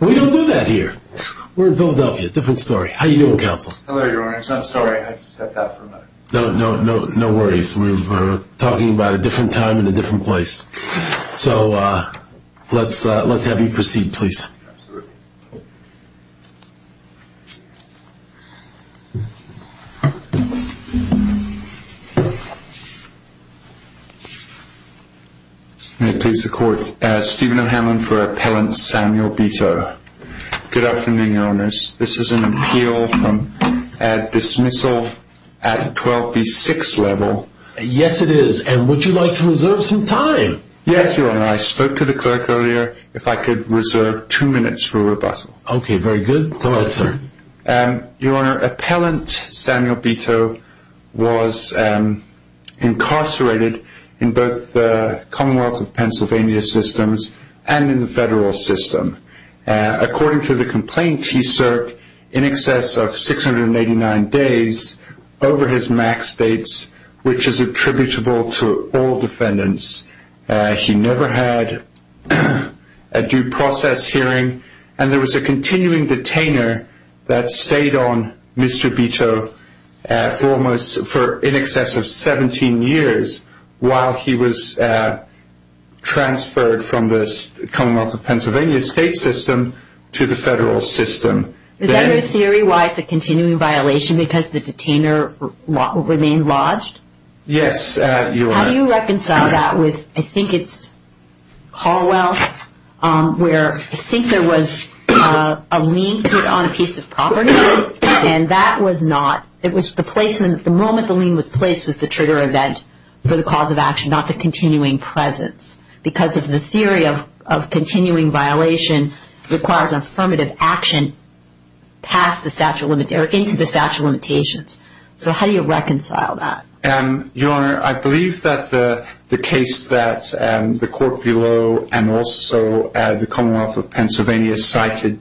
We don't do that here. We're in Philadelphia. Different story. How are you doing, Counsel? Hello, Your Honor. I'm sorry. I just had to stop for a minute. No worries. We're talking about a different time and a different place. So let's have you proceed, please. Absolutely. May it please the Court. Stephen O'Hanlon for Appellant Samuel Beto. Good afternoon, Your Honor. This is an appeal from dismissal at 12B6 level. Yes, it is. And would you like to reserve some time? Yes, Your Honor. I spoke to the clerk earlier. If I could reserve two minutes for rebuttal. Okay. Very good. Go ahead, sir. Your Honor, Appellant Samuel Beto was incarcerated in both the Commonwealth of Pennsylvania systems and in the federal system. According to the complaint, he served in excess of 689 days over his max dates, which is attributable to all defendants. He never had a due process hearing, and there was a continuing detainer that stayed on Mr. Beto for in excess of 17 years while he was transferred from the Commonwealth of Pennsylvania state system to the federal system. Is there a theory why it's a continuing violation, because the detainer remained lodged? Yes, Your Honor. How do you reconcile that with, I think it's Caldwell, where I think there was a lien put on a piece of property, and that was not, the moment the lien was placed was the trigger event for the cause of action, not the continuing presence. Because the theory of continuing violation requires affirmative action into the statute of limitations. So how do you reconcile that? Your Honor, I believe that the case that the court below and also the Commonwealth of Pennsylvania cited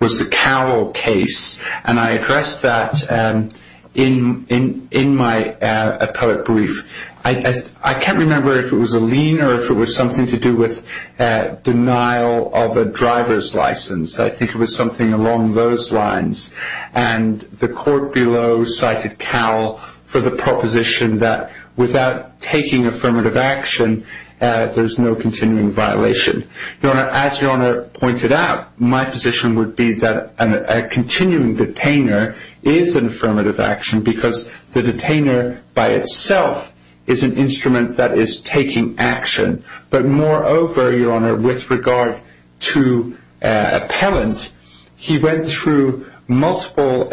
was the Cowell case, and I addressed that in my appellate brief. I can't remember if it was a lien or if it was something to do with denial of a driver's license. I think it was something along those lines. And the court below cited Cowell for the proposition that without taking affirmative action, there's no continuing violation. Your Honor, as Your Honor pointed out, my position would be that a continuing detainer is an affirmative action because the detainer by itself is an instrument that is taking action. But moreover, Your Honor, with regard to appellant, he went through multiple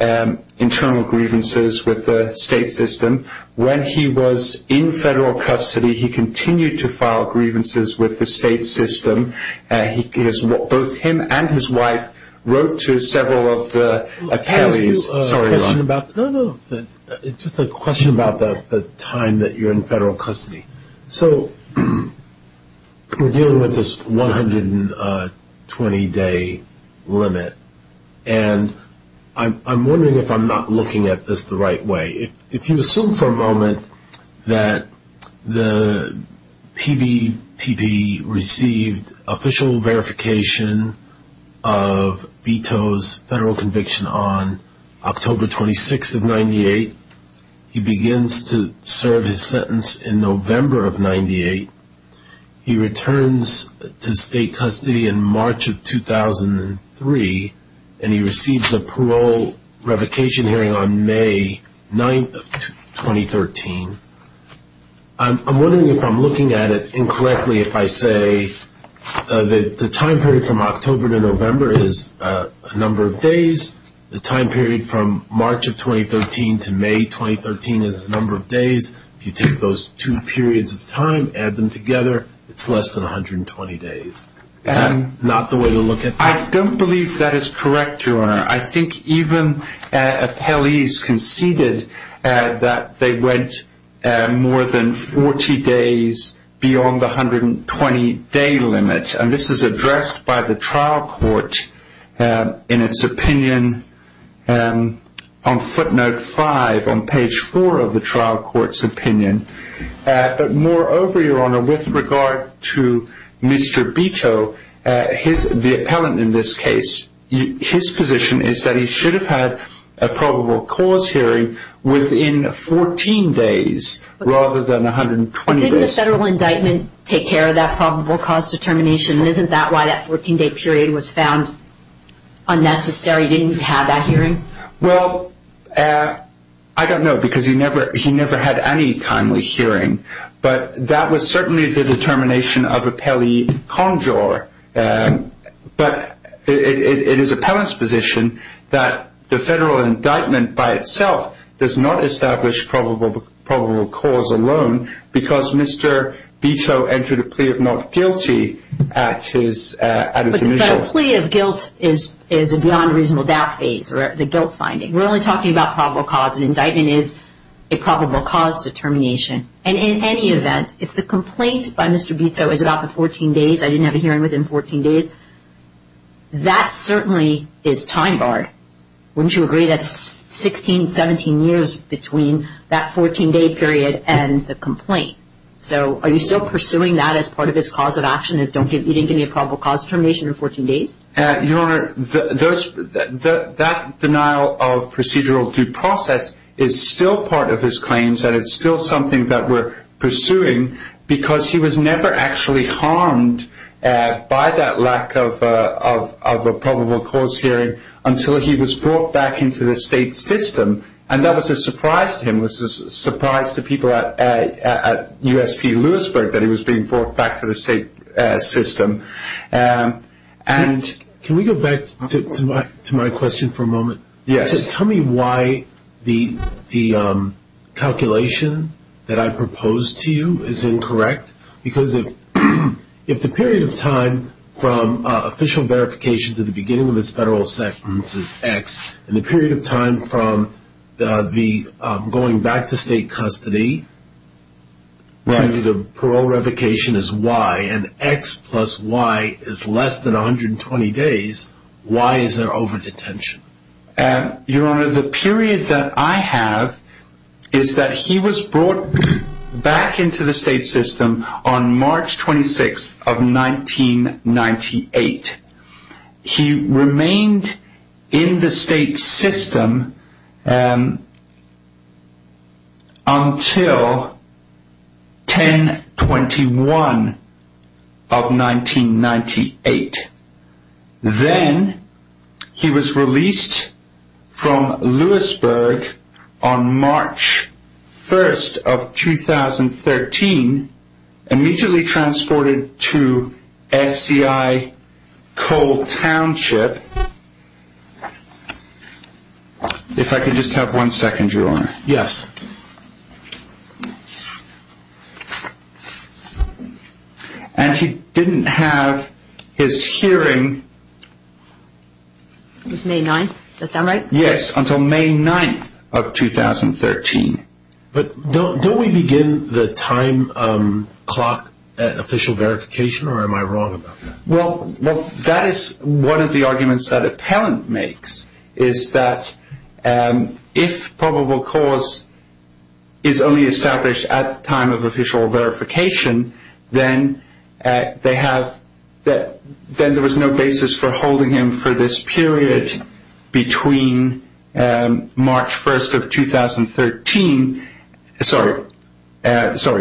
internal grievances with the state system. When he was in federal custody, he continued to file grievances with the state system. Both him and his wife wrote to several of the appellees. Just a question about the time that you're in federal custody. So we're dealing with this 120-day limit, and I'm wondering if I'm not looking at this the right way. If you assume for a moment that the PBPB received official verification of Beto's federal conviction on October 26th of 98, he begins to serve his sentence in November of 98. He returns to state custody in March of 2003, and he receives a parole revocation hearing on May 9th of 2013. I'm wondering if I'm looking at it incorrectly if I say that the time period from October to November is a number of days, the time period from March of 2013 to May 2013 is a number of days. If you take those two periods of time, add them together, it's less than 120 days. Is that not the way to look at this? I don't believe that is correct, Your Honor. I think even appellees conceded that they went more than 40 days beyond the 120-day limit. And this is addressed by the trial court in its opinion on footnote 5 on page 4 of the trial court's opinion. But moreover, Your Honor, with regard to Mr. Beto, the appellant in this case, his position is that he should have had a probable cause hearing within 14 days rather than 120 days. Didn't the federal indictment take care of that probable cause determination? Isn't that why that 14-day period was found unnecessary? Didn't he have that hearing? Well, I don't know because he never had any timely hearing. But that was certainly the determination of appellee Conjor. But it is appellant's position that the federal indictment by itself does not establish probable cause alone because Mr. Beto entered a plea of not guilty at his initial. But the plea of guilt is a beyond reasonable doubt phase or the guilt finding. We're only talking about probable cause. An indictment is a probable cause determination. And in any event, if the complaint by Mr. Beto is about the 14 days, I didn't have a hearing within 14 days, that certainly is time barred. Wouldn't you agree that's 16, 17 years between that 14-day period and the complaint? So are you still pursuing that as part of his cause of action, is he didn't give me a probable cause determination in 14 days? Your Honor, that denial of procedural due process is still part of his claims and it's still something that we're pursuing because he was never actually harmed by that lack of a probable cause hearing until he was brought back into the state system. And that was a surprise to him. It was a surprise to people at USP Lewisburg that he was being brought back to the state system. Can we go back to my question for a moment? Yes. Tell me why the calculation that I proposed to you is incorrect. Because if the period of time from official verification to the beginning of his federal sentence is X, and the period of time from going back to state custody to the parole revocation is Y, and X plus Y is less than 120 days, why is there overdetention? Your Honor, the period that I have is that he was brought back into the state system on March 26th of 1998. He remained in the state system until 10-21 of 1998. Then he was released from Lewisburg on March 1st of 2013, immediately transported to SCI Cole Township. If I could just have one second, Your Honor. Yes. Yes. And he didn't have his hearing. It was May 9th. Does that sound right? Yes, until May 9th of 2013. But don't we begin the time clock at official verification or am I wrong about that? Well, that is one of the arguments that a parent makes, is that if probable cause is only established at time of official verification, then there was no basis for holding him for this period between March 1st of 2013, sorry,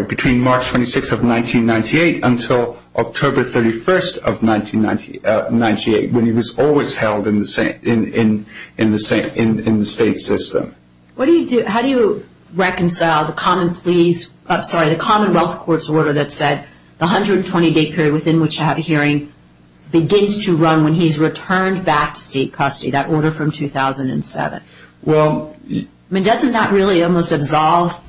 between March 26th of 1998 until October 31st of 1998, when he was always held in the state system. How do you reconcile the Commonwealth Court's order that said the 120-day period within which to have a hearing begins to run when he's returned back to state custody, that order from 2007? Well, doesn't that really almost absolve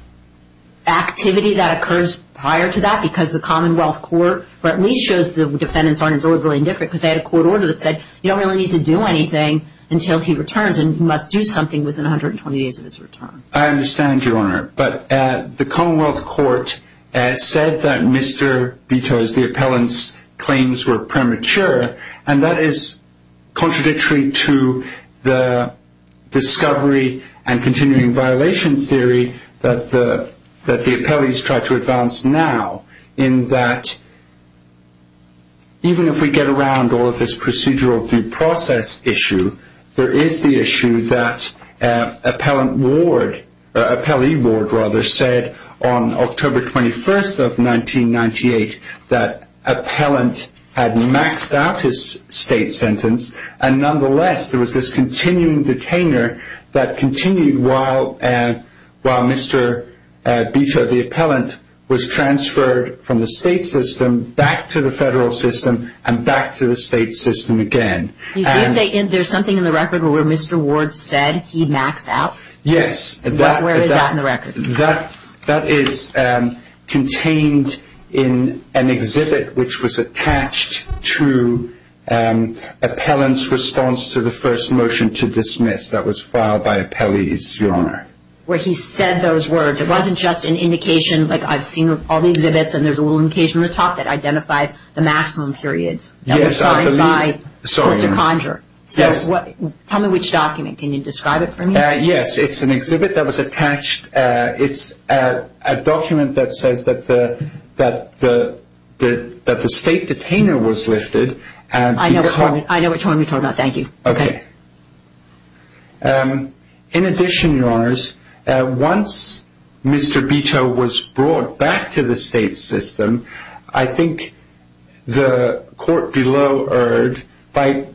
activity that occurs prior to that because the Commonwealth Court at least shows the defendants aren't really indifferent because they had a court order that said you don't really need to do anything until he returns and must do something within 120 days of his return. I understand, Your Honor. But the Commonwealth Court has said that Mr. Bito's, the appellant's, claims were premature and that is contradictory to the discovery and continuing violation theory that the appellees try to advance now, in that even if we get around all of this procedural due process issue, there is the issue that appellee board said on October 21st of 1998 that appellant had maxed out his state sentence and nonetheless there was this continuing detainer that continued while Mr. Bito, the appellant, was transferred from the state system back to the federal system and back to the state system again. You say there's something in the record where Mr. Ward said he maxed out? Yes. Where is that in the record? That is contained in an exhibit which was attached to appellant's response to the first motion to dismiss that was filed by appellees, Your Honor. Where he said those words. It wasn't just an indication, like I've seen all the exhibits and there's a little indication on the top that identifies the maximum periods. Yes, I believe. So, tell me which document. Can you describe it for me? Yes, it's an exhibit that was attached. It's a document that says that the state detainer was lifted and I know which one you're talking about. Thank you. Okay. In addition, Your Honors, once Mr. Bito was brought back to the state system, I think the court below erred by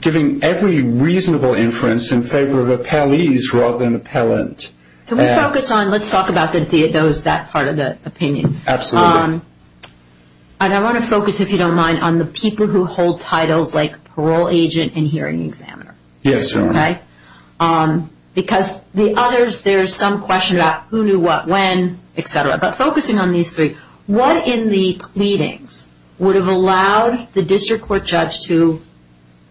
giving every reasonable inference in favor of appellees rather than appellant. Can we focus on, let's talk about those, that part of the opinion. Absolutely. I want to focus, if you don't mind, on the people who hold titles like parole agent and hearing examiner. Yes, Your Honor. Because the others, there's some question about who knew what when, etc. But focusing on these three, what in the pleadings would have allowed the district court judge to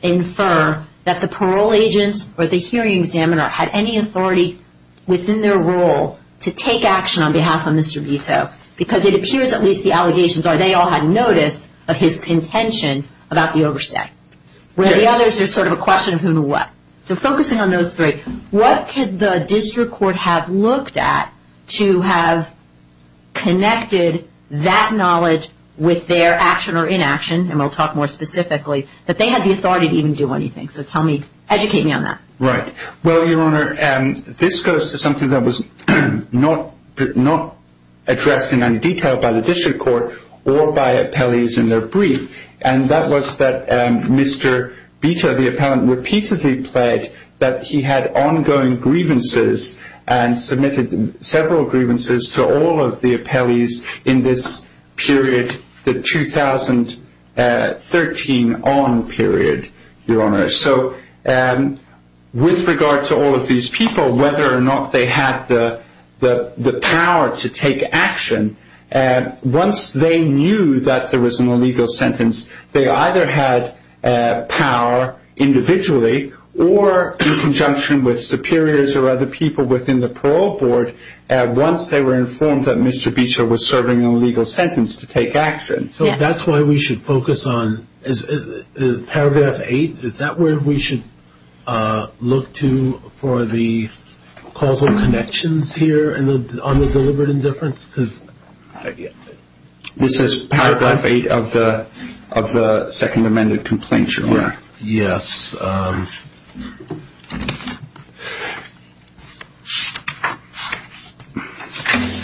infer that the parole agents or the hearing examiner had any authority within their role to take action on behalf of Mr. Bito? Because it appears at least the allegations are they all had notice of his contention about the oversight. Where the others are sort of a question of who knew what. So focusing on those three, what could the district court have looked at to have connected that knowledge with their action or inaction, and we'll talk more specifically, that they had the authority to even do anything. So educate me on that. Right. Well, Your Honor, this goes to something that was not addressed in any detail by the district court or by appellees in their brief, and that was that Mr. Bito, the appellant, repeatedly pled that he had ongoing grievances and submitted several grievances to all of the appellees in this period, the 2013 on period, Your Honor. So with regard to all of these people, whether or not they had the power to take action, once they knew that there was an illegal sentence, they either had power individually or in conjunction with superiors or other people within the parole board, once they were informed that Mr. Bito was serving an illegal sentence to take action. So that's why we should focus on paragraph 8. Is that where we should look to for the causal connections here on the deliberate indifference? This is paragraph 8 of the second amended complaint, Your Honor. Yes.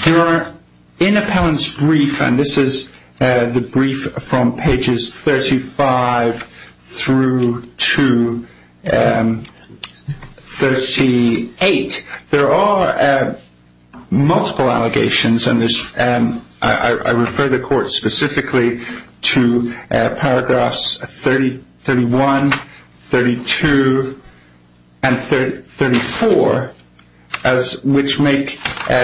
Your Honor, in appellant's brief, and this is the brief from pages 35 through to 38, there are multiple allegations, and I refer the court specifically to paragraphs 31, 32, and 34, which make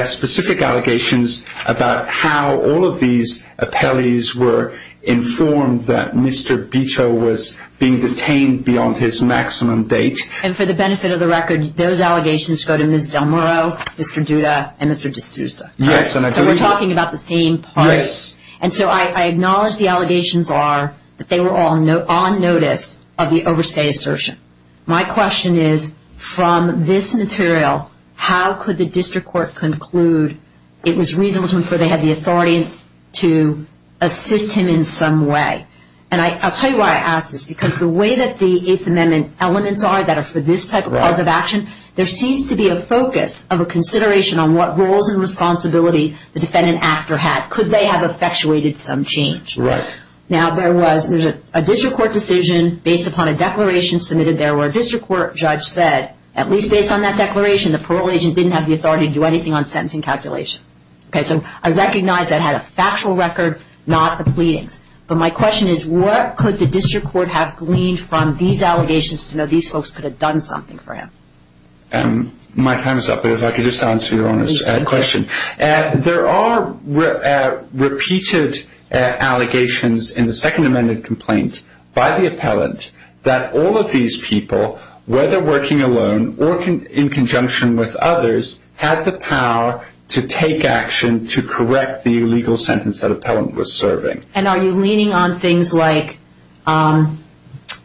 specific allegations about how all of these appellees were informed that Mr. Bito was being detained beyond his maximum date. And for the benefit of the record, those allegations go to Ms. Del Moro, Mr. Duda, and Mr. DeSouza. Yes. So we're talking about the same parties. And so I acknowledge the allegations are that they were all on notice of the overstay assertion. My question is, from this material, how could the district court conclude it was reasonable to infer they had the authority to assist him in some way? And I'll tell you why I ask this, because the way that the Eighth Amendment elements are that are for this type of cause of action, there seems to be a focus of a consideration on what roles and responsibility the defendant actor had. Could they have effectuated some change? Right. Now, there was a district court decision based upon a declaration submitted there where a district court judge said, at least based on that declaration, the parole agent didn't have the authority to do anything on sentencing calculation. Okay, so I recognize that had a factual record, not the pleadings. But my question is, what could the district court have gleaned from these allegations to know these folks could have done something for him? My time is up, but if I could just answer your question. There are repeated allegations in the Second Amendment complaint by the appellant that all of these people, whether working alone or in conjunction with others, had the power to take action to correct the illegal sentence that appellant was serving. And are you leaning on things like Mr.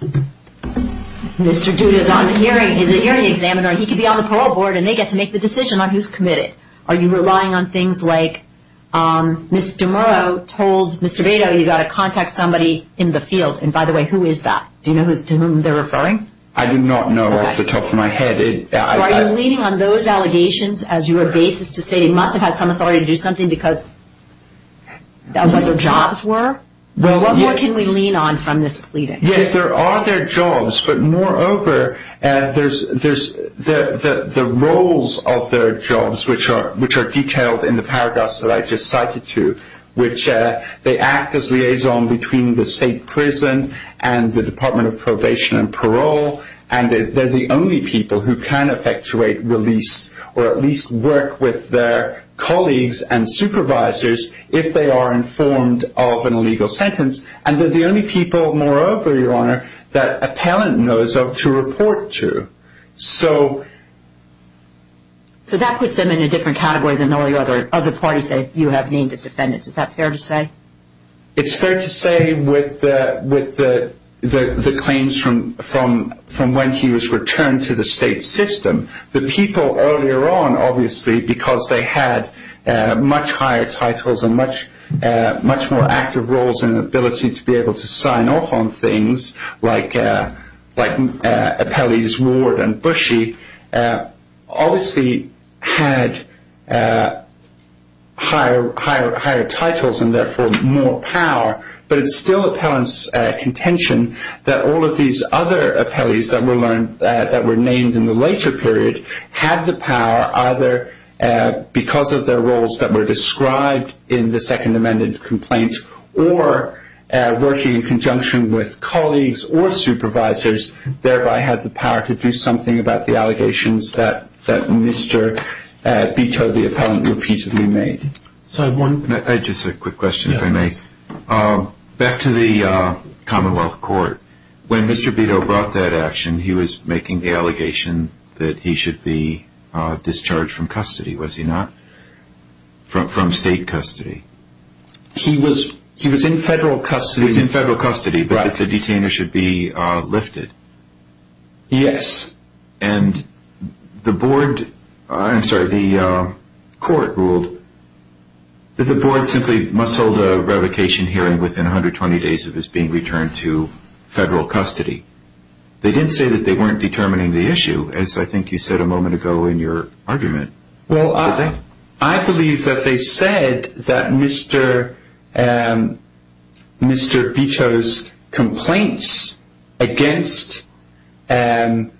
Duda is a hearing examiner. He could be on the parole board, and they get to make the decision on who's committed. Are you relying on things like Mr. Murrow told Mr. Beto, you've got to contact somebody in the field, and by the way, who is that? Do you know to whom they're referring? I do not know off the top of my head. Are you leaning on those allegations as your basis to say he must have had some authority to do something because of what their jobs were? What more can we lean on from this pleading? Yes, there are their jobs, but moreover, the roles of their jobs, which are detailed in the paragraphs that I just cited to, which they act as liaison between the state prison and the Department of Probation and Parole, and they're the only people who can effectuate release or at least work with their colleagues and supervisors if they are informed of an illegal sentence, and they're the only people, moreover, Your Honor, that appellant knows of to report to. So that puts them in a different category than all the other parties that you have named as defendants. Is that fair to say? It's fair to say with the claims from when he was returned to the state system, the people earlier on, obviously, because they had much higher titles and much more active roles and ability to be able to sign off on things, like appellees Ward and Bushy, obviously had higher titles and therefore more power, but it's still appellant's contention that all of these other appellees that were named in the later period had the power either because of their roles that were described in the Second Amendment complaint or working in conjunction with colleagues or supervisors, thereby had the power to do something about the allegations that Mr. Beto, the appellant, repeatedly made. Just a quick question, if I may. Back to the Commonwealth Court. When Mr. Beto brought that action, he was making the allegation that he should be discharged from custody, was he not? From state custody. He was in federal custody. He was in federal custody, but that the detainer should be lifted. Yes. And the board, I'm sorry, the court ruled that the board simply must hold a revocation hearing within 120 days of his being returned to federal custody. They didn't say that they weren't determining the issue, as I think you said a moment ago in your argument. Well, I believe that they said that Mr. Beto's complaints against the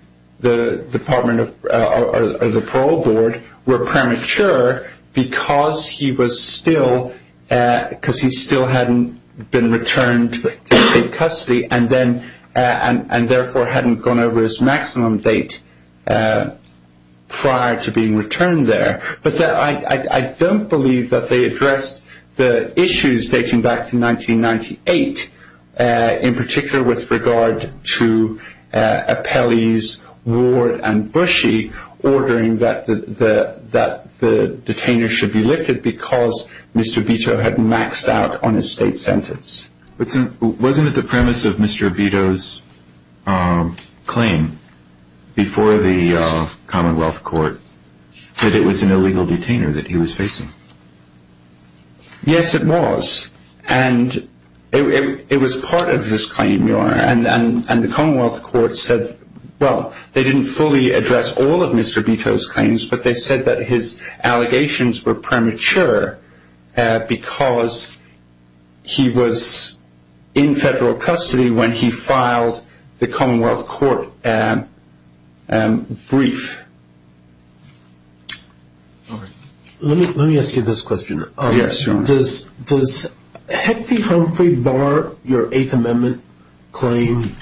parole board were premature because he still hadn't been returned to state custody and therefore hadn't gone over his maximum date prior to being returned there. But I don't believe that they addressed the issues dating back to 1998, in particular with regard to appellees Ward and Bushey ordering that the detainer should be lifted because Mr. Beto had maxed out on his state sentence. Wasn't it the premise of Mr. Beto's claim before the Commonwealth Court that it was an illegal detainer that he was facing? Yes, it was. And it was part of his claim, Your Honor. And the Commonwealth Court said, well, they didn't fully address all of Mr. Beto's claims, but they said that his allegations were premature because he was in federal custody when he filed the Commonwealth Court brief. Let me ask you this question. Yes, Your Honor. Does Heckley Humphrey bar your Eighth Amendment claim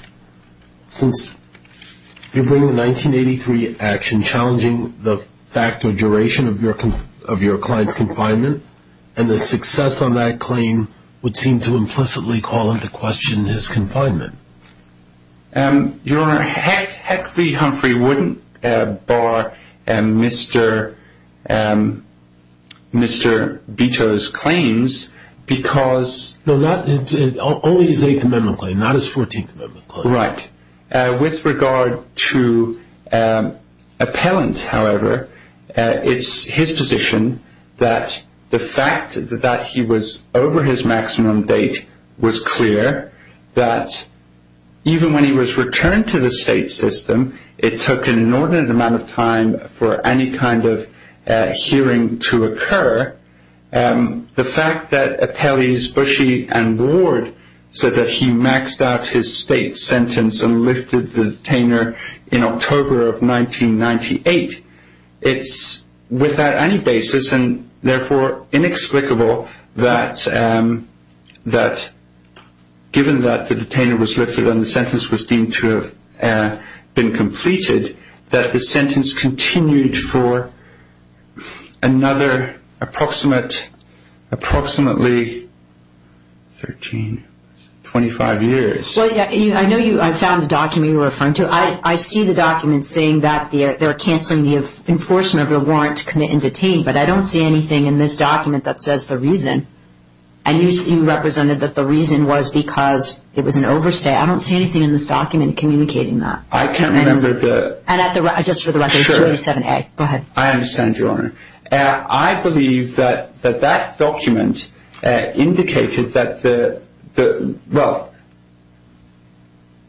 since you bring in 1983 action challenging the fact or duration of your client's confinement and the success on that claim would seem to implicitly call into question his confinement? Your Honor, Heckley Humphrey wouldn't bar Mr. Beto's claims because... No, only his Eighth Amendment claim, not his Fourteenth Amendment claim. Right. With regard to appellant, however, it's his position that the fact that he was over his maximum date was clear that even when he was returned to the state system, it took an inordinate amount of time for any kind of hearing to occur. The fact that appellees Bushey and Ward said that he maxed out his state sentence and lifted the detainer in October of 1998, it's without any basis and therefore inexplicable that given that the detainer was lifted and the sentence was deemed to have been completed, that the sentence continued for another approximately 25 years. I know I found the document you're referring to. I see the document saying that they're cancelling the enforcement of the warrant to commit and detain, but I don't see anything in this document that says the reason. And you represented that the reason was because it was an overstay. I don't see anything in this document communicating that. I can't remember the... And just for the record, it's 287A. Go ahead. I understand, Your Honor. I believe that that document indicated that the... Well,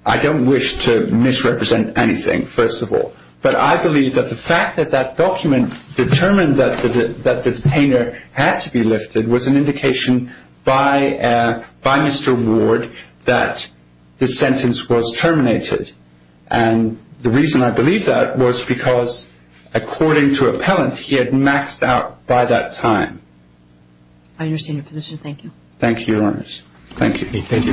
I don't wish to misrepresent anything, first of all, but I believe that the fact that that document determined that the detainer had to be lifted was an indication by Mr. Ward that the sentence was terminated. And the reason I believe that was because according to appellant, he had maxed out by that time. I understand your position. Thank you. Thank you, Your Honor. Thank you. Thank you.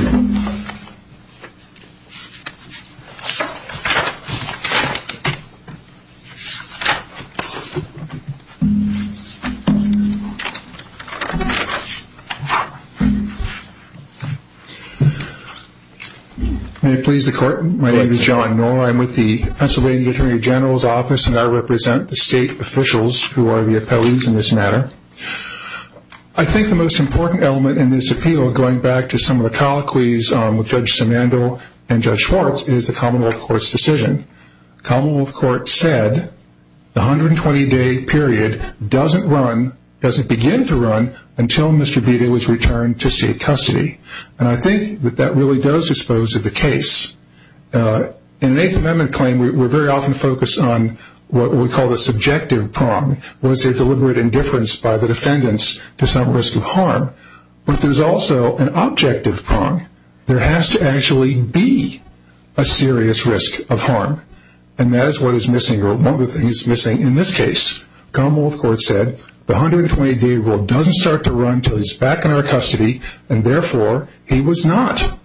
May it please the Court. My name is John Noll. I'm with the Pennsylvania Attorney General's Office, and I represent the state officials who are the appellees in this matter. I think the most important element in this appeal, with Judge Simandl and Judge Schwartz, is the Commonwealth Court's decision. Commonwealth Court said the 120-day period doesn't run, doesn't begin to run, until Mr. Vita was returned to state custody. And I think that that really does dispose of the case. In an Eighth Amendment claim, we're very often focused on what we call the subjective prong. Was there deliberate indifference by the defendants to some risk of harm? But there's also an objective prong. There has to actually be a serious risk of harm. And that is what is missing, or one of the things missing in this case. Commonwealth Court said the 120-day rule doesn't start to run until he's back in our custody, and therefore he was not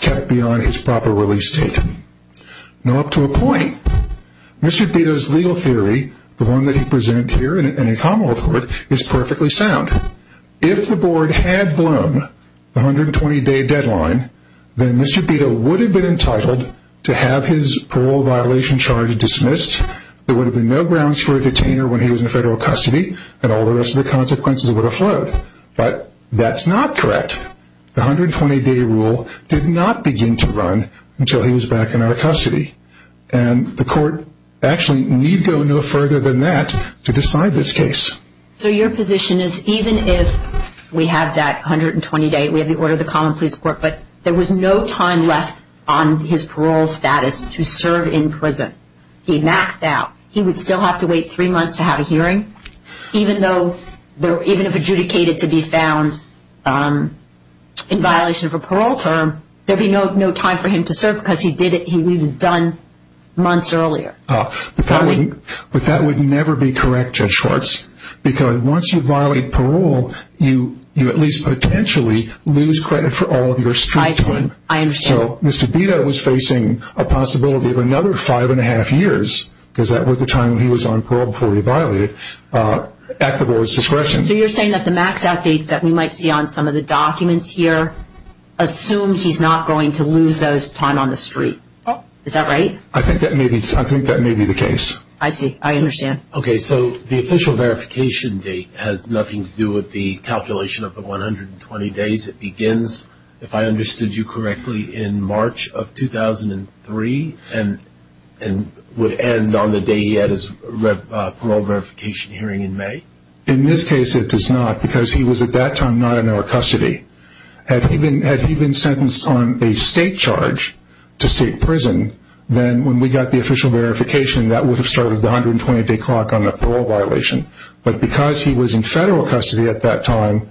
kept beyond his proper release date. Now, up to a point. Mr. Vita's legal theory, the one that he presented here in the Commonwealth Court, is perfectly sound. If the board had blown the 120-day deadline, then Mr. Vita would have been entitled to have his parole violation charges dismissed. There would have been no grounds for a detainer when he was in federal custody, and all the rest of the consequences would have flowed. But that's not correct. The 120-day rule did not begin to run until he was back in our custody. And the court actually need go no further than that to decide this case. So your position is even if we have that 120-day, we have the order of the Commonwealth Police Court, but there was no time left on his parole status to serve in prison. He maxed out. He would still have to wait three months to have a hearing. Even if adjudicated to be found in violation of a parole term, there would be no time for him to serve because he was done months earlier. But that would never be correct, Judge Schwartz, because once you violate parole, you at least potentially lose credit for all of your street time. I see. I understand. So Mr. Vita was facing a possibility of another five and a half years, because that was the time he was on parole before he violated, at the board's discretion. So you're saying that the max outdates that we might see on some of the documents here assume he's not going to lose those time on the street. Is that right? I think that may be the case. I see. I understand. Okay. So the official verification date has nothing to do with the calculation of the 120 days. It begins, if I understood you correctly, in March of 2003 and would end on the day he had his parole verification hearing in May. In this case, it does not, because he was at that time not in our custody. Had he been sentenced on a state charge to state prison, then when we got the official verification, that would have started the 120-day clock on the parole violation. But because he was in federal custody at that time,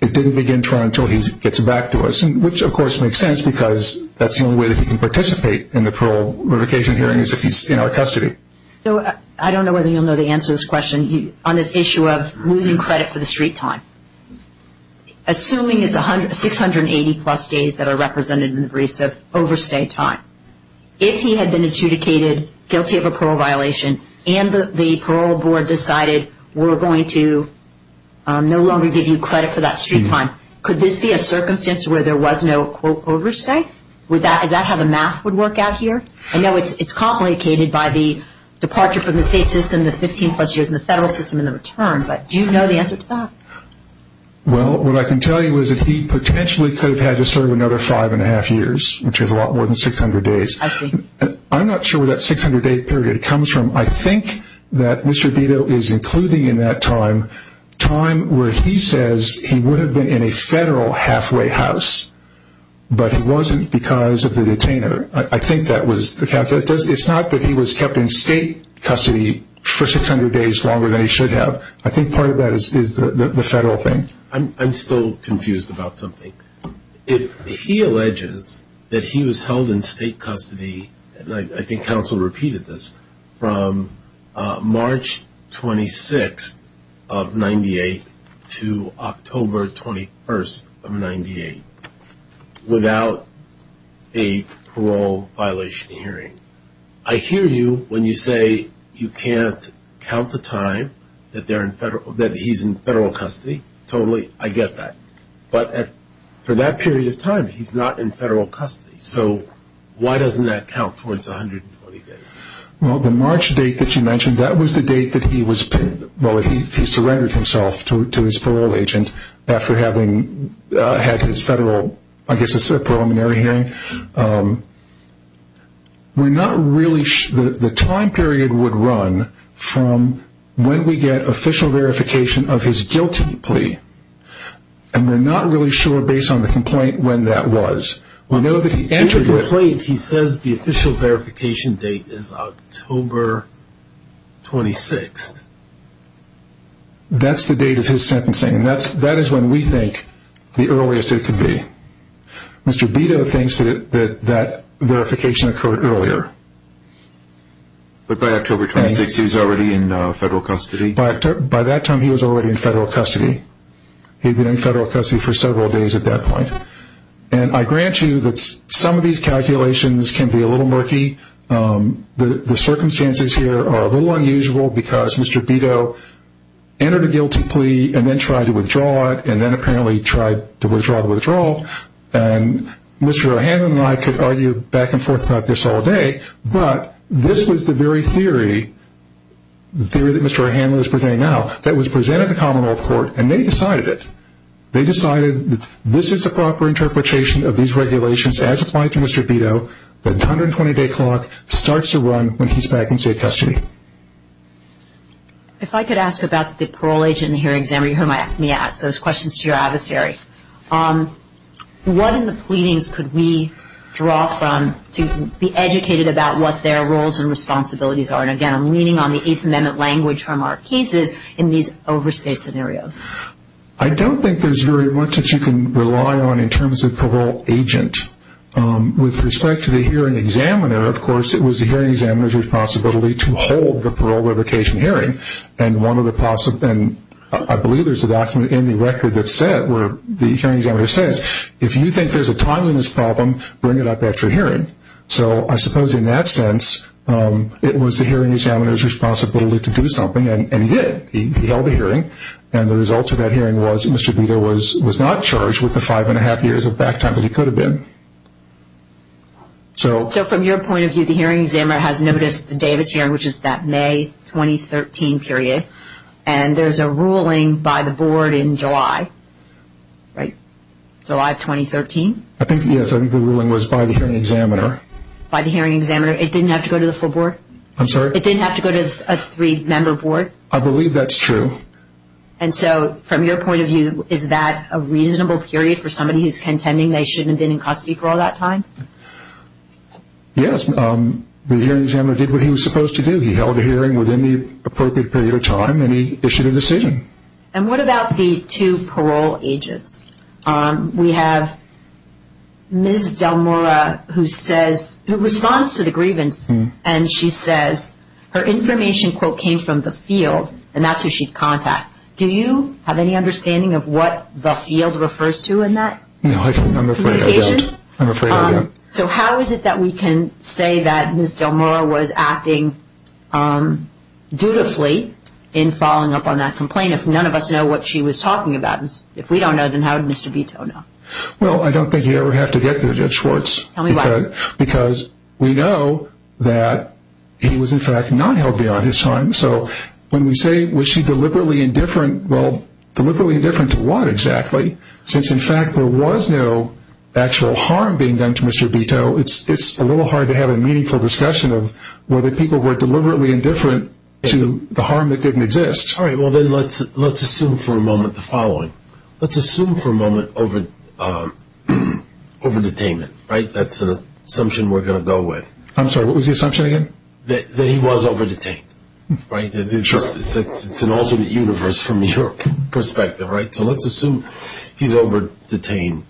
it didn't begin until he gets back to us, which, of course, makes sense, because that's the only way that he can participate in the parole verification hearing is if he's in our custody. I don't know whether you'll know the answer to this question on this issue of losing credit for the street time. Assuming it's 680-plus days that are represented in the briefs of overstay time, if he had been adjudicated guilty of a parole violation and the parole board decided we're going to no longer give you credit for that street time, could this be a circumstance where there was no, quote, overstay? Is that how the math would work out here? I know it's complicated by the departure from the state system, the 15-plus years, and the federal system in return, but do you know the answer to that? Well, what I can tell you is that he potentially could have had to serve another five-and-a-half years, which is a lot more than 600 days. I see. I'm not sure where that 600-day period comes from. I think that Mr. Vito is including in that time time where he says he would have been in a federal halfway house, but he wasn't because of the detainer. It's not that he was kept in state custody for 600 days longer than he should have. I think part of that is the federal thing. I'm still confused about something. If he alleges that he was held in state custody, and I think counsel repeated this, March 26th of 98 to October 21st of 98 without a parole violation hearing, I hear you when you say you can't count the time that he's in federal custody. Totally, I get that. But for that period of time, he's not in federal custody. So why doesn't that count towards 120 days? Well, the March date that you mentioned, that was the date that he was pinned. Well, he surrendered himself to his parole agent after having had his federal, I guess it's a preliminary hearing. We're not really sure. The time period would run from when we get official verification of his guilty plea, and we're not really sure based on the complaint when that was. In the complaint, he says the official verification date is October 26th. That's the date of his sentencing. That is when we think the earliest it could be. Mr. Beto thinks that that verification occurred earlier. But by October 26th, he was already in federal custody? By that time, he was already in federal custody. He had been in federal custody for several days at that point. And I grant you that some of these calculations can be a little murky. The circumstances here are a little unusual because Mr. Beto entered a guilty plea and then tried to withdraw it, and then apparently tried to withdraw the withdrawal. And Mr. O'Hanlon and I could argue back and forth about this all day, but this was the very theory, the theory that Mr. O'Hanlon is presenting now, that was presented to common law court, and they decided it. They decided that this is the proper interpretation of these regulations as applied to Mr. Beto, that the 120-day clock starts to run when he's back in state custody. If I could ask about the parole agent and the hearing examiner, you heard me ask those questions to your adversary. What in the pleadings could we draw from to be educated about what their roles and responsibilities are? And, again, I'm leaning on the Eighth Amendment language from our cases in these overstay scenarios. I don't think there's very much that you can rely on in terms of parole agent. With respect to the hearing examiner, of course, it was the hearing examiner's responsibility to hold the parole revocation hearing. And I believe there's a document in the record that said, where the hearing examiner says, if you think there's a timeliness problem, bring it up at your hearing. So I suppose in that sense, it was the hearing examiner's responsibility to do something, and he did. He held the hearing, and the result of that hearing was Mr. Beto was not charged with the five-and-a-half years of back time that he could have been. So from your point of view, the hearing examiner has noticed the Davis hearing, which is that May 2013 period, and there's a ruling by the board in July, right, July of 2013? I think, yes, I think the ruling was by the hearing examiner. By the hearing examiner. It didn't have to go to the full board? I'm sorry? It didn't have to go to a three-member board? I believe that's true. And so from your point of view, is that a reasonable period for somebody who's contending they shouldn't have been in custody for all that time? Yes, the hearing examiner did what he was supposed to do. He held a hearing within the appropriate period of time, and he issued a decision. And what about the two parole agents? We have Ms. Del Mora who says, who responds to the grievance, and she says, her information, quote, came from the field, and that's who she'd contact. Do you have any understanding of what the field refers to in that? No, I'm afraid I don't. Communication? I'm afraid I don't. So how is it that we can say that Ms. Del Mora was acting dutifully in following up on that complaint if none of us know what she was talking about? If we don't know, then how did Mr. Vito know? Well, I don't think you ever have to get to Judge Schwartz. Tell me why. Because we know that he was, in fact, not held beyond his time. So when we say, was she deliberately indifferent, well, deliberately indifferent to what exactly? Since, in fact, there was no actual harm being done to Mr. Vito, it's a little hard to have a meaningful discussion of whether people were deliberately indifferent to the harm that didn't exist. All right, well, then let's assume for a moment the following. Let's assume for a moment over-detainment, right? That's an assumption we're going to go with. I'm sorry, what was the assumption again? That he was over-detained, right? Sure. It's an alternate universe from your perspective, right? So let's assume he's over-detained,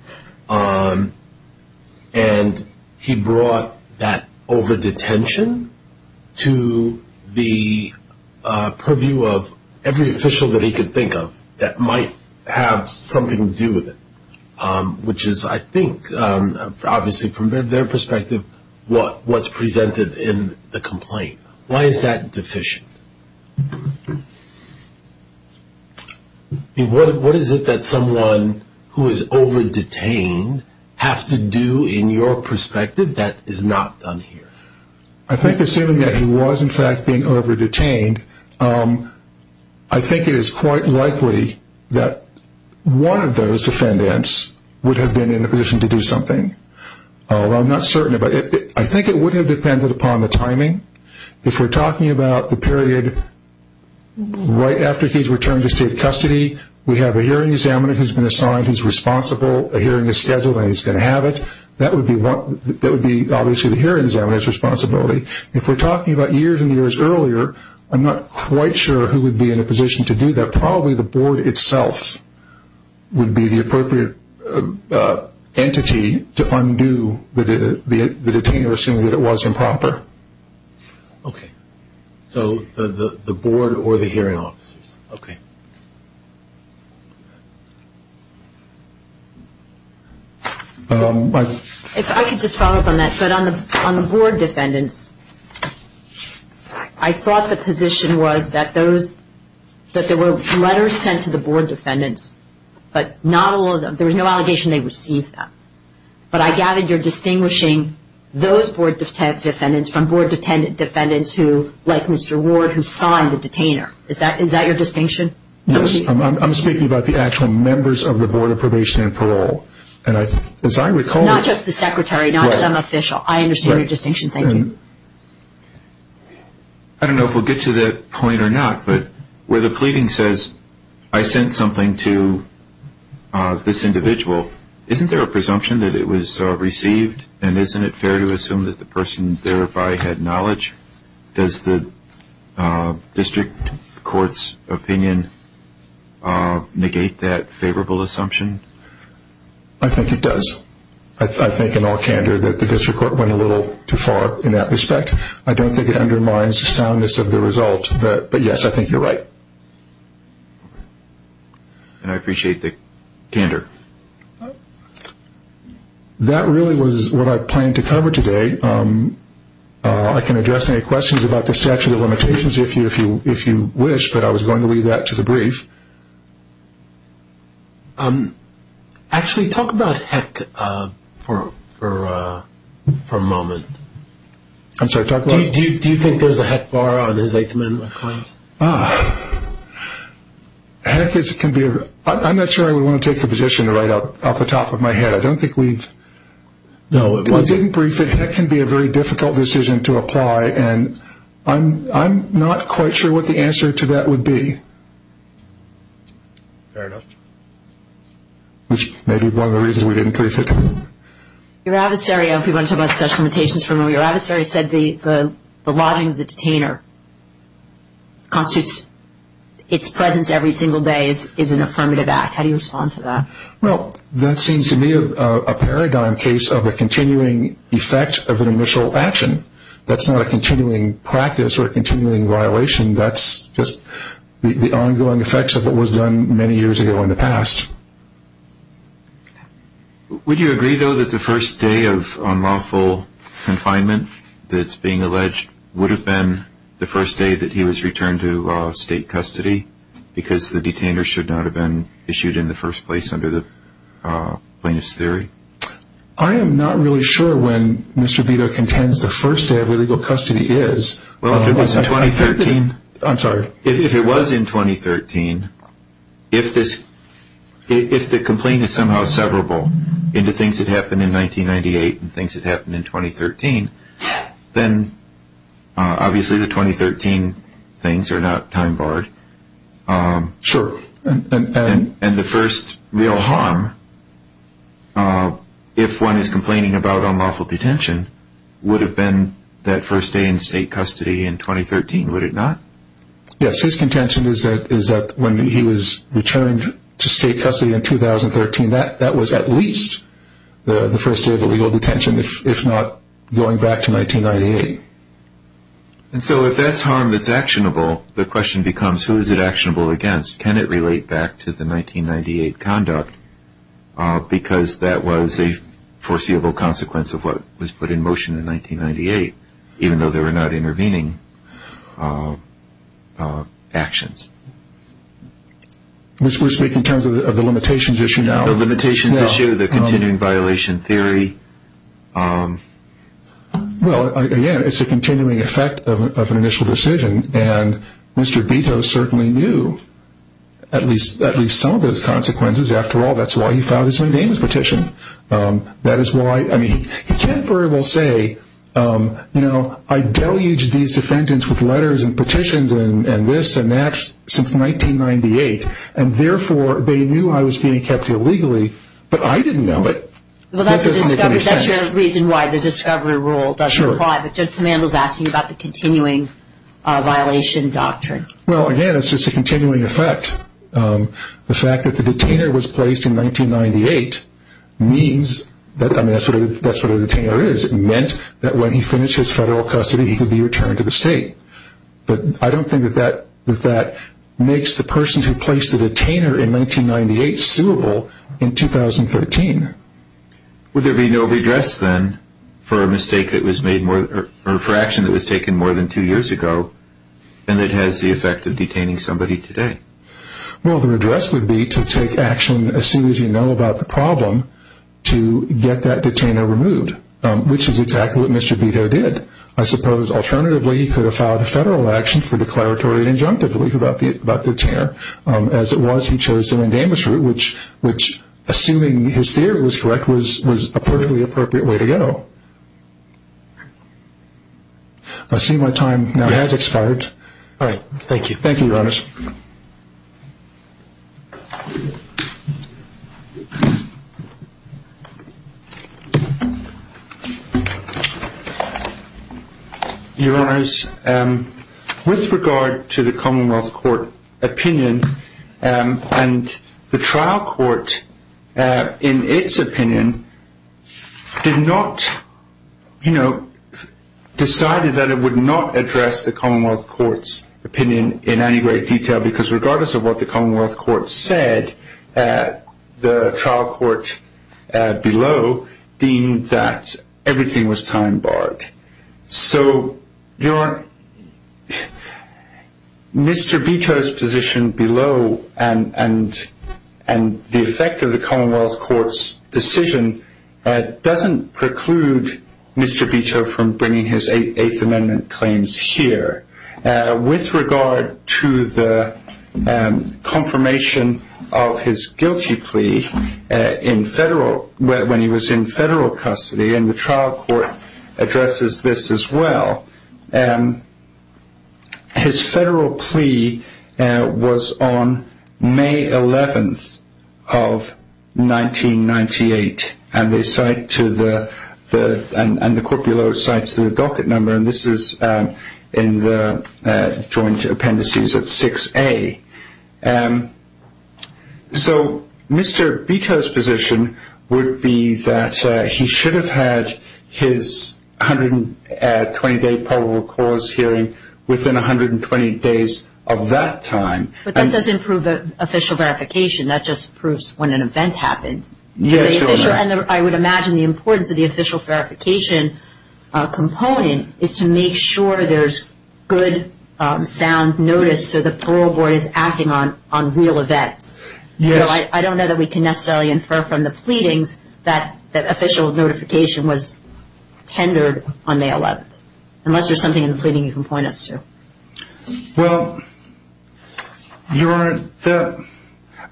and he brought that over-detention to the purview of every official that he could think of that might have something to do with it, which is, I think, obviously from their perspective, what's presented in the complaint. Why is that deficient? What is it that someone who is over-detained has to do in your perspective that is not done here? I think assuming that he was, in fact, being over-detained, I think it is quite likely that one of those defendants would have been in a position to do something. I'm not certain, but I think it would have depended upon the timing. If we're talking about the period right after he's returned to state custody, we have a hearing examiner who's been assigned, who's responsible. A hearing is scheduled, and he's going to have it. That would be obviously the hearing examiner's responsibility. If we're talking about years and years earlier, I'm not quite sure who would be in a position to do that. But probably the board itself would be the appropriate entity to undo the detainer, assuming that it was improper. Okay. So the board or the hearing officers. Okay. If I could just follow up on that. But on the board defendants, I thought the position was that there were letters sent to the board defendants, but there was no allegation they received them. But I gather you're distinguishing those board defendants from board defendants like Mr. Ward who signed the detainer. Is that your distinction? Yes. I'm speaking about the actual members of the Board of Probation and Parole. Not just the secretary, not some official. I understand your distinction. Thank you. I don't know if we'll get to that point or not, but where the pleading says, I sent something to this individual, isn't there a presumption that it was received, and isn't it fair to assume that the person thereby had knowledge? Does the district court's opinion negate that favorable assumption? I think it does. I think in all candor that the district court went a little too far in that respect. I don't think it undermines soundness of the result, but, yes, I think you're right. And I appreciate the candor. That really was what I planned to cover today. I can address any questions about the statute of limitations if you wish, but I was going to leave that to the brief. Actually, talk about HEC for a moment. I'm sorry, talk about it. Do you think there's a HEC bar on his 8th Amendment claims? HEC can be, I'm not sure I would want to take the position to write off the top of my head. I don't think we've. No, it wasn't. We didn't brief it. HEC can be a very difficult decision to apply, and I'm not quite sure what the answer to that would be. Fair enough. Which may be one of the reasons we didn't brief it. Your adversary, I hope you want to talk about the statute of limitations for a moment, your adversary said the lobbying of the detainer constitutes its presence every single day is an affirmative act. How do you respond to that? Well, that seems to me a paradigm case of a continuing effect of an initial action. That's not a continuing practice or a continuing violation. That's just the ongoing effects of what was done many years ago in the past. Would you agree, though, that the first day of unlawful confinement that's being alleged would have been the first day that he was returned to state custody because the detainer should not have been issued in the first place under the plaintiff's theory? I am not really sure when Mr. Vito contends the first day of illegal custody is. Well, if it was in 2013. I'm sorry. If it was in 2013, if the complaint is somehow severable into things that happened in 1998 and things that happened in 2013, then obviously the 2013 things are not time barred. Sure. And the first real harm, if one is complaining about unlawful detention, would have been that first day in state custody in 2013, would it not? Yes. His contention is that when he was returned to state custody in 2013, that was at least the first day of illegal detention, if not going back to 1998. And so if that's harm that's actionable, the question becomes who is it actionable against? Can it relate back to the 1998 conduct? Because that was a foreseeable consequence of what was put in motion in 1998, even though there were not intervening actions. We're speaking in terms of the limitations issue now? The limitations issue, the continuing violation theory. Well, again, it's a continuing effect of an initial decision. And Mr. Vito certainly knew at least some of those consequences. After all, that's why he filed his name as petition. That is why, I mean, he can't very well say, you know, I deluged these defendants with letters and petitions and this and that since 1998, and, therefore, they knew I was being kept illegally, but I didn't know it. Well, that's a discovery. That's your reason why the discovery rule doesn't apply. Sure. But Judge Samandel is asking about the continuing violation doctrine. Well, again, it's just a continuing effect. The fact that the detainer was placed in 1998 means that, I mean, that's what a detainer is. It meant that when he finished his federal custody, he could be returned to the state. But I don't think that that makes the person who placed the detainer in 1998 suable in 2013. Would there be no redress then for a mistake that was made more, or for action that was taken more than two years ago than it has the effect of detaining somebody today? Well, the redress would be to take action as soon as you know about the problem to get that detainer removed, which is exactly what Mr. Beto did. I suppose, alternatively, he could have filed a federal action for declaratory and injunctive relief about the detainer. As it was, he chose to end amnesty, which, assuming his theory was correct, was a perfectly appropriate way to go. I see my time now has expired. All right. Thank you. Thank you, Your Honours. Your Honours, with regard to the Commonwealth Court opinion, and the trial court, in its opinion, did not, you know, decided that it would not address the Commonwealth Court's opinion in any great detail because regardless of what the Commonwealth Court said, the trial court below deemed that everything was time-barred. So Mr. Beto's position below and the effect of the Commonwealth Court's decision doesn't preclude Mr. Beto from bringing his Eighth Amendment claims here. With regard to the confirmation of his guilty plea when he was in federal custody and the trial court addresses this as well, his federal plea was on May 11th of 1998 and the court below cites the docket number and this is in the joint appendices at 6A. So Mr. Beto's position would be that he should have had his 120-day probable cause hearing within 120 days of that time. But that doesn't prove official verification. That just proves when an event happened. Yes, Your Honours. And I would imagine the importance of the official verification component is to make sure there's good, sound notice so the parole board is acting on real events. So I don't know that we can necessarily infer from the pleadings that official notification was tendered on May 11th, unless there's something in the pleading you can point us to. Well, Your Honours,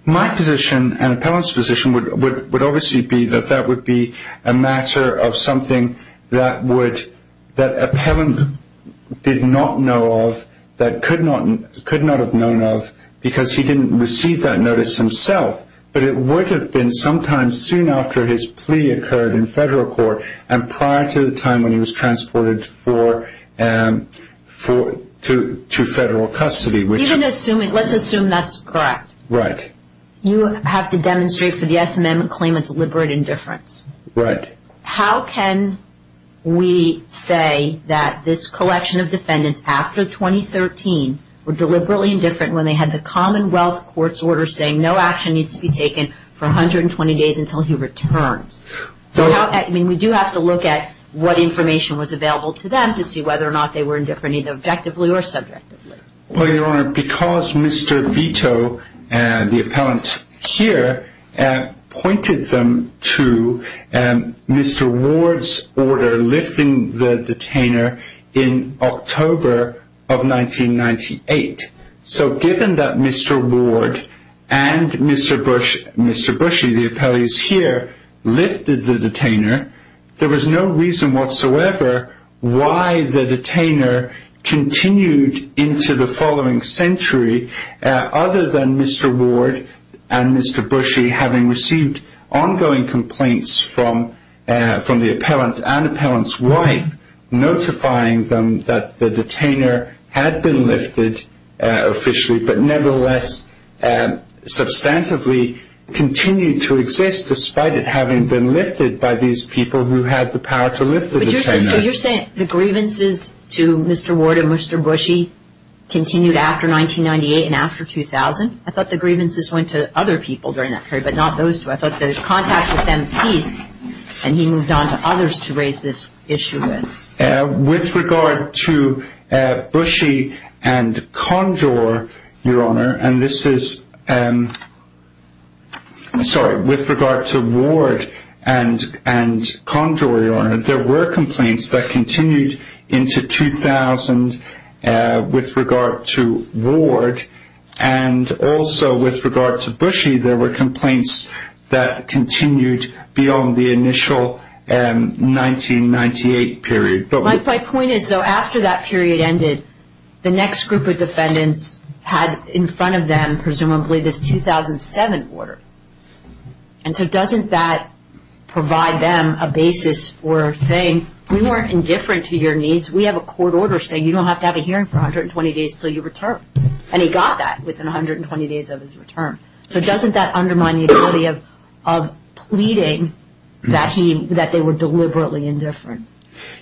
my position and Appellant's position would obviously be that that would be a matter of something that Appellant did not know of, that could not have known of because he didn't receive that notice himself. But it would have been sometime soon after his plea occurred in federal court and prior to the time when he was transported to federal custody. Let's assume that's correct. Right. You have to demonstrate for the S. Amendment claim it's deliberate indifference. Right. How can we say that this collection of defendants after 2013 were deliberately indifferent when they had the Commonwealth Court's order saying no action needs to be taken for 120 days until he returns? So we do have to look at what information was available to them to see whether or not they were indifferent either objectively or subjectively. Well, Your Honour, because Mr. Vito, the Appellant here, pointed them to Mr. Ward's order lifting the detainer in October of 1998. So given that Mr. Ward and Mr. Bushey, the Appellant here, lifted the detainer, there was no reason whatsoever why the detainer continued into the following century other than Mr. Ward and Mr. Bushey having received ongoing complaints from the Appellant and Appellant's wife notifying them that the detainer had been lifted officially but nevertheless substantively continued to exist despite it having been lifted by these people who had the power to lift the detainer. So you're saying the grievances to Mr. Ward and Mr. Bushey continued after 1998 and after 2000? I thought the grievances went to other people during that period, but not those two. I thought those contacts with them ceased and he moved on to others to raise this issue with. With regard to Bushey and Condor, Your Honour, and this is, sorry, with regard to Ward and Condor, Your Honour, there were complaints that continued into 2000 with regard to Ward and also with regard to Bushey there were complaints that continued beyond the initial 1998 period. My point is, though, after that period ended, the next group of defendants had in front of them presumably this 2007 order. And so doesn't that provide them a basis for saying, we weren't indifferent to your needs, we have a court order saying you don't have to have a hearing for 120 days until you return. And he got that within 120 days of his return. So doesn't that undermine the ability of pleading that they were deliberately indifferent?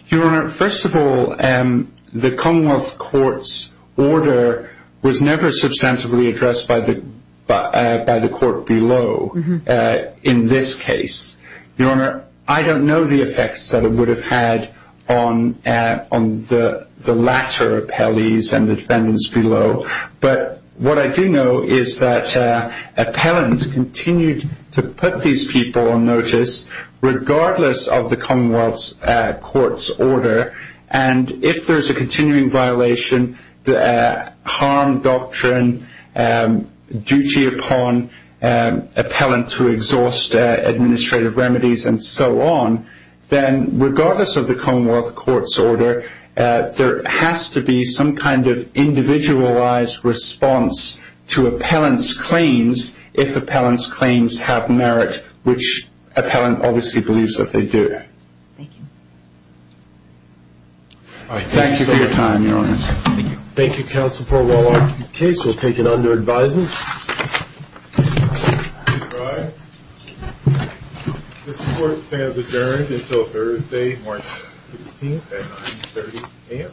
Your Honour, first of all, the Commonwealth Court's order was never substantively addressed by the court below in this case. Your Honour, I don't know the effects that it would have had on the latter appellees and the defendants below, but what I do know is that appellants continued to put these people on notice regardless of the Commonwealth Court's order. And if there is a continuing violation, harm doctrine, duty upon appellant to exhaust administrative remedies and so on, then regardless of the Commonwealth Court's order, there has to be some kind of individualized response to appellant's claims if appellant's claims have merit, which appellant obviously believes that they do. Thank you. Thank you for your time, Your Honour. Thank you, Counsel. This court will take it under advisement. This court stands adjourned until Thursday, March 16th at 9.30 a.m.